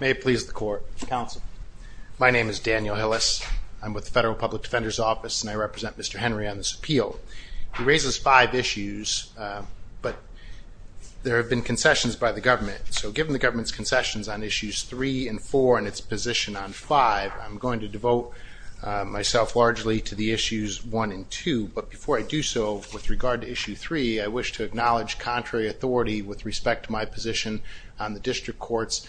May it please the court. Counsel. My name is Daniel Hillis. I'm with the Federal Public Defender's Office and I represent Mr. Henry on this appeal. He raises five issues but there have been concessions by the government so given the government's concessions on issues three and four and its position on five I'm going to devote myself largely to the issues one and two but before I do so with regard to issue three I wish to acknowledge contrary authority with the district court's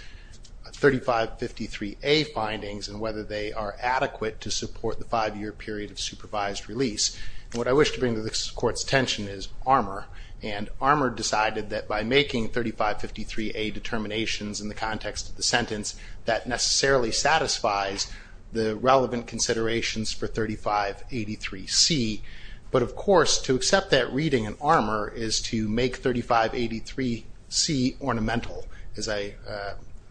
3553a findings and whether they are adequate to support the five-year period of supervised release. What I wish to bring to this court's attention is armor and armor decided that by making 3553a determinations in the context of the sentence that necessarily satisfies the relevant considerations for 3583c but of course to accept that reading in armor is to make 3583c ornamental as I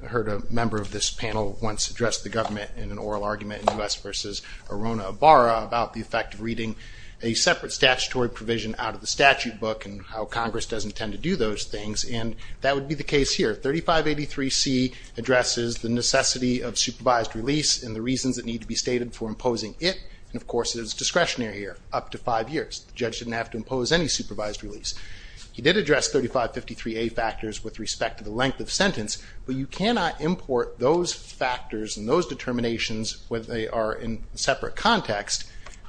heard a member of this panel once addressed the government in an oral argument in the West versus Arona Barra about the effect of reading a separate statutory provision out of the statute book and how Congress doesn't tend to do those things and that would be the case here 3583c addresses the necessity of supervised release and the reasons that need to be stated for imposing it and of course it is discretionary here up to release. He did address 3553a factors with respect to the length of sentence but you cannot import those factors and those determinations when they are in separate context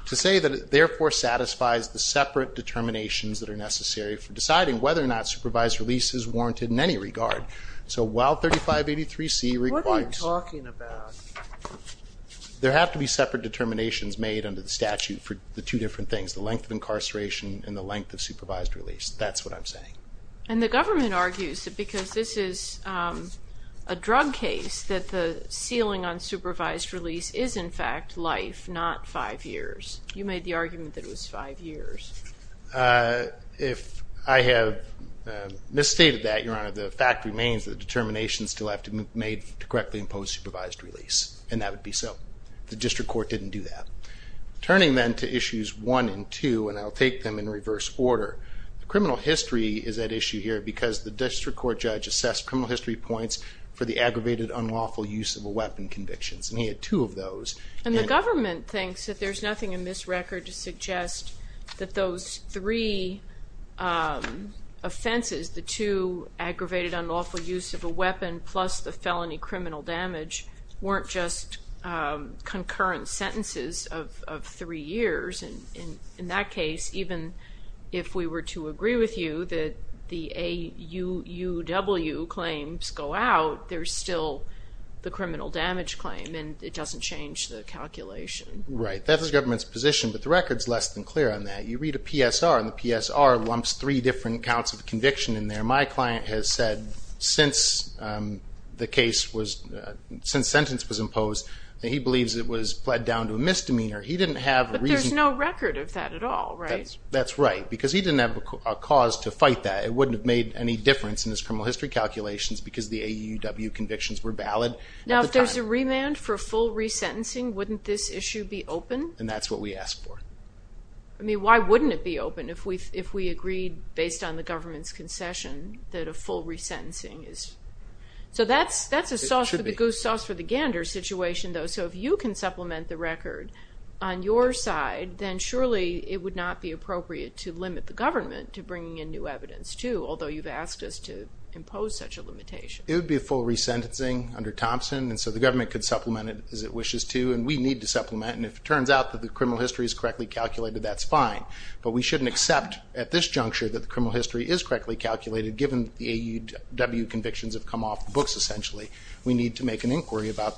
to say that it therefore satisfies the separate determinations that are necessary for deciding whether or not supervised release is warranted in any regard. So while 3583c requires, there have to be separate determinations made under the statute for the two different things the length of supervised release that's what I'm saying. And the government argues that because this is a drug case that the ceiling on supervised release is in fact life not five years. You made the argument that it was five years. If I have misstated that your honor the fact remains the determinations still have to be made to correctly impose supervised release and that would be so. The district court didn't do that. Turning then to issues one and two and I'll take them in reverse order. Criminal history is at issue here because the district court judge assessed criminal history points for the aggravated unlawful use of a weapon convictions and he had two of those. And the government thinks that there's nothing in this record to suggest that those three offenses the two aggravated unlawful use of a weapon plus the felony criminal damage weren't just concurrent sentences of three years and in that case even if we were to agree with you that the AUW claims go out there's still the criminal damage claim and it doesn't change the calculation. Right that was government's position but the records less than clear on that. You read a PSR and the PSR lumps three different counts of conviction in there. My client has said since the case was since sentence was imposed that he believes it was pled down to a misdemeanor. He didn't have a reason. There's no record of that at all right. That's right because he didn't have a cause to fight that it wouldn't have made any difference in this criminal history calculations because the AUW convictions were valid. Now if there's a remand for full resentencing wouldn't this issue be open? And that's what we asked for. I mean why wouldn't it be open if we if we agreed based on the government's concession that a full resentencing is. So that's that's a sauce for the goose sauce for the gander situation though so if you can supplement the record on your side then surely it would not be appropriate to limit the government to bringing in new evidence to although you've asked us to impose such a limitation. It would be a full resentencing under Thompson and so the government could supplement it as it wishes to and we need to supplement and if it turns out that the criminal history is correctly calculated that's fine but we shouldn't accept at this juncture that the criminal history is correctly calculated given the AUW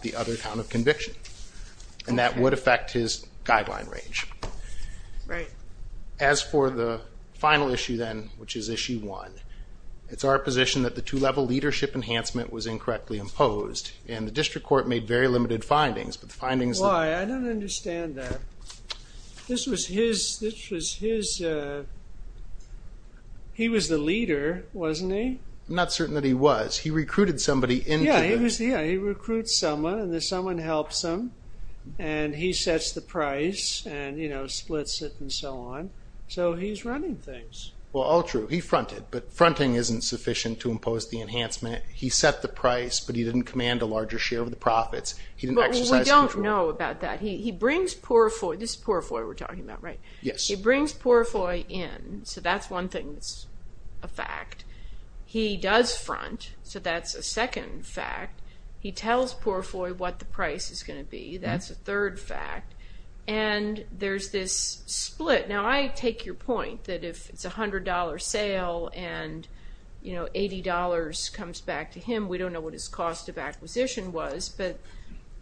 the other count of conviction and that would affect his guideline range. Right. As for the final issue then which is issue one it's our position that the two-level leadership enhancement was incorrectly imposed and the district court made very limited findings but the findings. I don't understand that. This was his this was his he was the leader wasn't he? Not certain that he was he recruited somebody. Yeah he recruits someone and someone helps him and he sets the price and you know splits it and so on so he's running things. Well all true he fronted but fronting isn't sufficient to impose the enhancement he set the price but he didn't command a larger share of the profits he didn't exercise control. But we don't know about that he brings poor foy this is poor foy we're talking about right? Yes. He brings poor foy in so that's one thing that's a fact he does front so that's a second fact he tells poor foy what the price is going to be that's a third fact and there's this split now I take your point that if it's a hundred dollar sale and you know $80 comes back to him we don't know what his cost of acquisition was but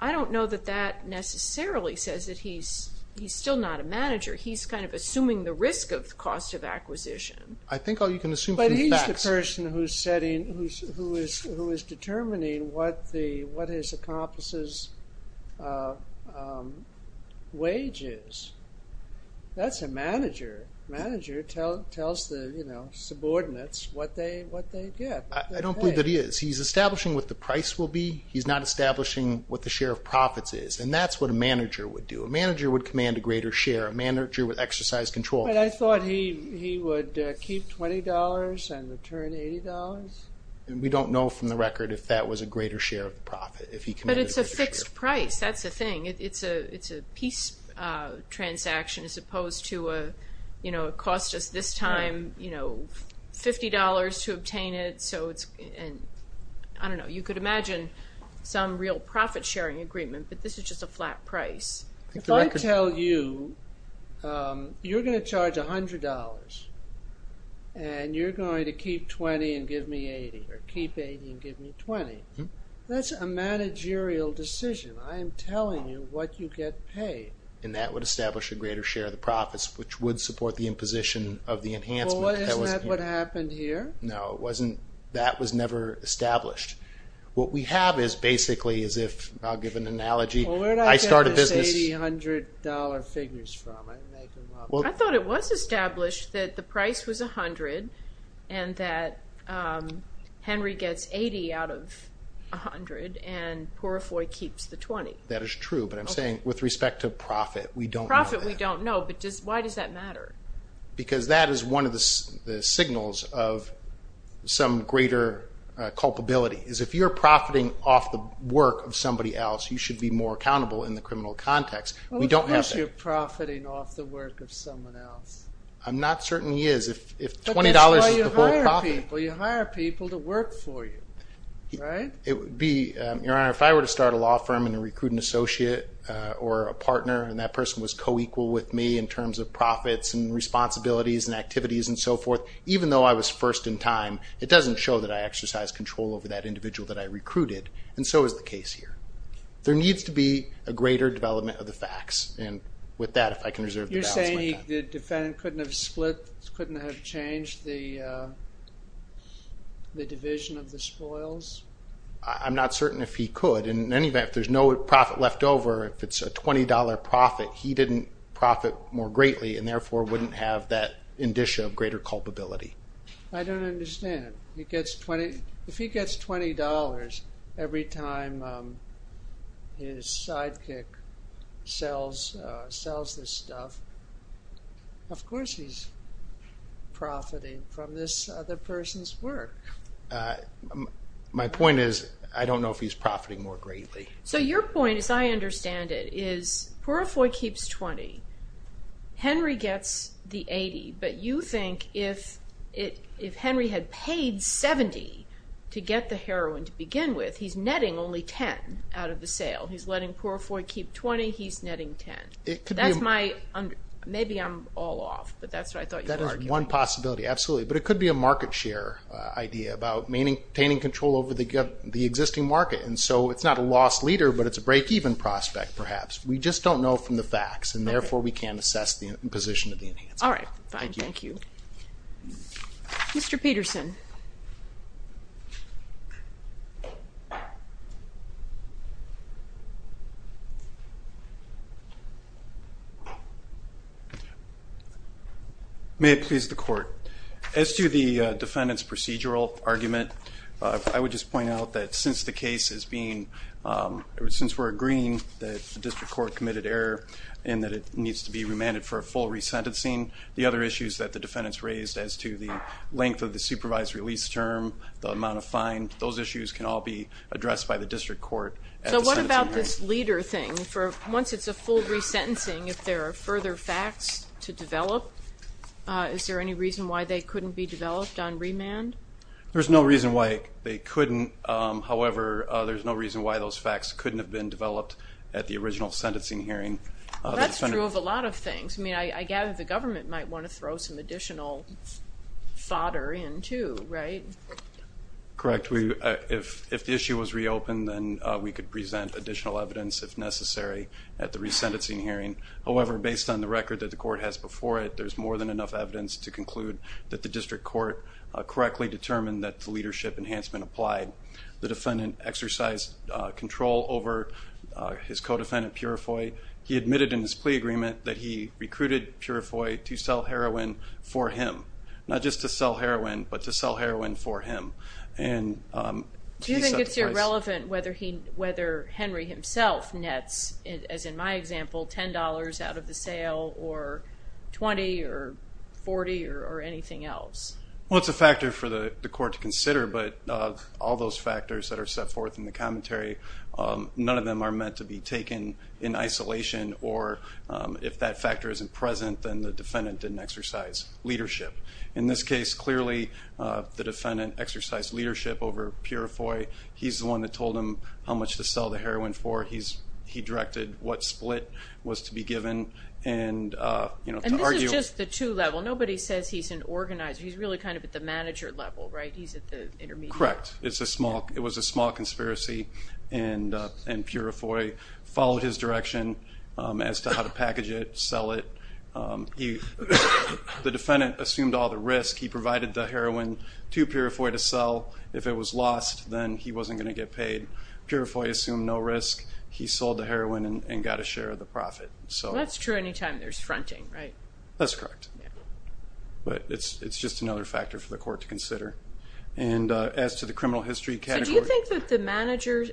I don't know that that necessarily says that he's he's still not a manager he's kind of assuming the risk of the cost of who is determining what the what his accomplices wages that's a manager manager tells the you know subordinates what they what they get. I don't believe that he is he's establishing what the price will be he's not establishing what the share of profits is and that's what a manager would do a manager would command a greater share a manager with exercise control. But I thought he would keep $20 and return $80? We don't know from the record if that was a greater share of profit if he committed. But it's a fixed price that's the thing it's a it's a peace transaction as opposed to a you know it cost us this time you know $50 to obtain it so it's and I don't know you could imagine some real profit sharing agreement but this is just a flat price. If I tell you you're gonna charge $100 and you're going to keep $20 and give me $80 or keep $80 and give me $20 that's a managerial decision I am telling you what you get paid. And that would establish a greater share of the profits which would support the imposition of the enhancement. Well isn't that what happened here? No it wasn't that was never established what we have is basically as if I'll give an analogy I started $80 figures from. I thought it was established that the price was a hundred and that Henry gets 80 out of a hundred and Purifoy keeps the 20. That is true but I'm saying with respect to profit we don't know. Profit we don't know but just why does that matter? Because that is one of the signals of some greater culpability is if you're profiting off the work of somebody else you should be more accountable in the criminal context. Well of course you're profiting off the work of someone else. I'm not certain he is if $20 is the whole profit. But that's why you hire people. You hire people to work for you. It would be your honor if I were to start a law firm and recruit an associate or a partner and that person was co-equal with me in terms of profits and responsibilities and activities and so forth even though I was first in time it doesn't show that I exercise control over that individual that I recruited and so is the case here. There needs to be a greater development of the facts and with that if I can reserve the balance. You're saying the defendant couldn't have split, couldn't have changed the division of the spoils? I'm not certain if he could. In any event if there's no profit left over if it's a $20 profit he didn't profit more greatly and therefore wouldn't have that indicia of greater culpability. I don't understand it. If he gets $20 every time his sidekick sells this stuff, of course he's profiting from this other person's work. My point is I don't know if he's profiting more greatly. So your point as I understand it is Purifoy keeps $20, Henry gets the $80, but you think if Henry had paid $70 to get the heroin to begin with, he's netting only $10 out of the sale. He's letting Purifoy keep $20, he's netting $10. Maybe I'm all off, but that's what I thought you were arguing. That is one possibility, absolutely, but it could be a market share idea about obtaining control over the existing market and so it's not a lost leader but it's a break-even prospect perhaps. We just don't know from the facts and therefore we can't assess the position of the enhancer. All right, thank you. Mr. Peterson. May it please the court. As to the defendant's procedural argument, I would just point out that since the case is being, since we're agreeing that the needs to be remanded for a full resentencing, the other issues that the defendants raised as to the length of the supervised release term, the amount of fine, those issues can all be addressed by the district court. So what about this leader thing for once it's a full resentencing, if there are further facts to develop, is there any reason why they couldn't be developed on remand? There's no reason why they couldn't, however, there's no reason why those That's true of a lot of things. I mean, I gather the government might want to throw some additional fodder in too, right? Correct, if the issue was reopened then we could present additional evidence if necessary at the resentencing hearing. However, based on the record that the court has before it, there's more than enough evidence to conclude that the district court correctly determined that the leadership enhancement applied. The defendant exercised control over his co-defendant, Purifoy. He admitted in his plea agreement that he recruited Purifoy to sell heroin for him, not just to sell heroin, but to sell heroin for him. Do you think it's irrelevant whether Henry himself nets, as in my example, $10 out of the sale or $20 or $40 or anything else? Well, it's a factor for the court to consider, but all those factors that are set forth in the commentary, none of them are meant to be taken in isolation, or if that factor isn't present, then the defendant didn't exercise leadership. In this case, clearly the defendant exercised leadership over Purifoy. He's the one that told him how much to sell the heroin for. He directed what split was to be given and, you know, to argue... And this is just the two-level. Nobody says he's an organizer. He's really kind of at the manager level, right? He's at the intermediate level. Correct. It was a small conspiracy and Purifoy followed his direction as to how to package it, sell it. The defendant assumed all the risk. He provided the heroin to Purifoy to sell. If it was lost, then he wasn't going to get paid. Purifoy assumed no risk. He sold the heroin and got a share of the profit. So that's true anytime there's fronting, right? That's correct, but it's just another factor for the court to Is the manager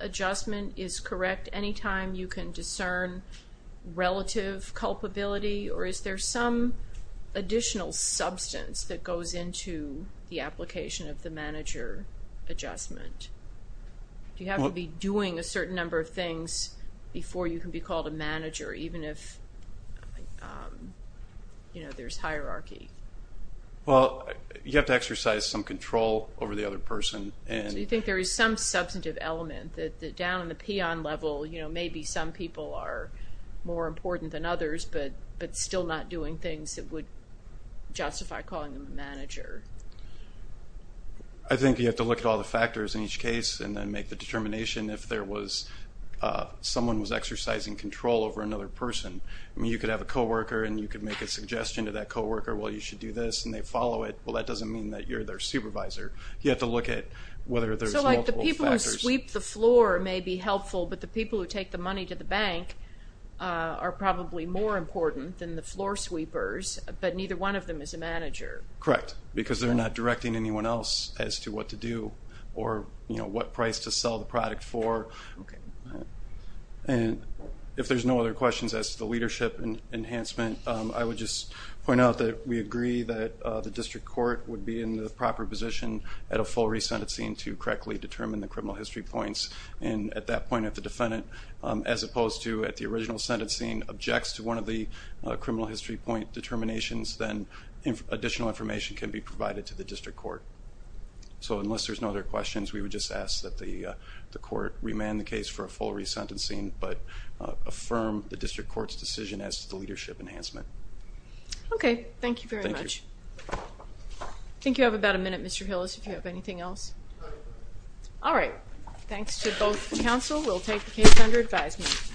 adjustment is correct anytime you can discern relative culpability, or is there some additional substance that goes into the application of the manager adjustment? Do you have to be doing a certain number of things before you can be called a manager, even if, you know, there's hierarchy? Well, you have to exercise some control over the other person. So you think there is some substantive element that down in the peon level, you know, maybe some people are more important than others, but still not doing things that would justify calling them a manager. I think you have to look at all the factors in each case and then make the determination if there was, someone was exercising control over another person. I mean, you could have a co-worker and you could make a suggestion to that co-worker, well you should do this, and they follow it. Well, that doesn't mean that you're their supervisor. You have to look at whether there's multiple factors. So like the people who sweep the floor may be helpful, but the people who take the money to the bank are probably more important than the floor sweepers, but neither one of them is a manager. Correct, because they're not directing anyone else as to what to do or, you know, what price to sell the product for. And if there's no other questions as to the leadership and enhancement, I would just point out that we agree that the district court would be in the proper position at a full resentencing to correctly determine the criminal history points. And at that point, if the defendant, as opposed to at the original sentencing, objects to one of the criminal history point determinations, then additional information can be provided to the district court. So unless there's no other questions, we would just ask that the court remand the case for a full resentencing, but affirm the district court's decision as to the leadership enhancement. Okay, thank you very much. I think you have about a minute, Mr. McNeil. Anything else? All right, thanks to both the council. We'll take the case under advisement.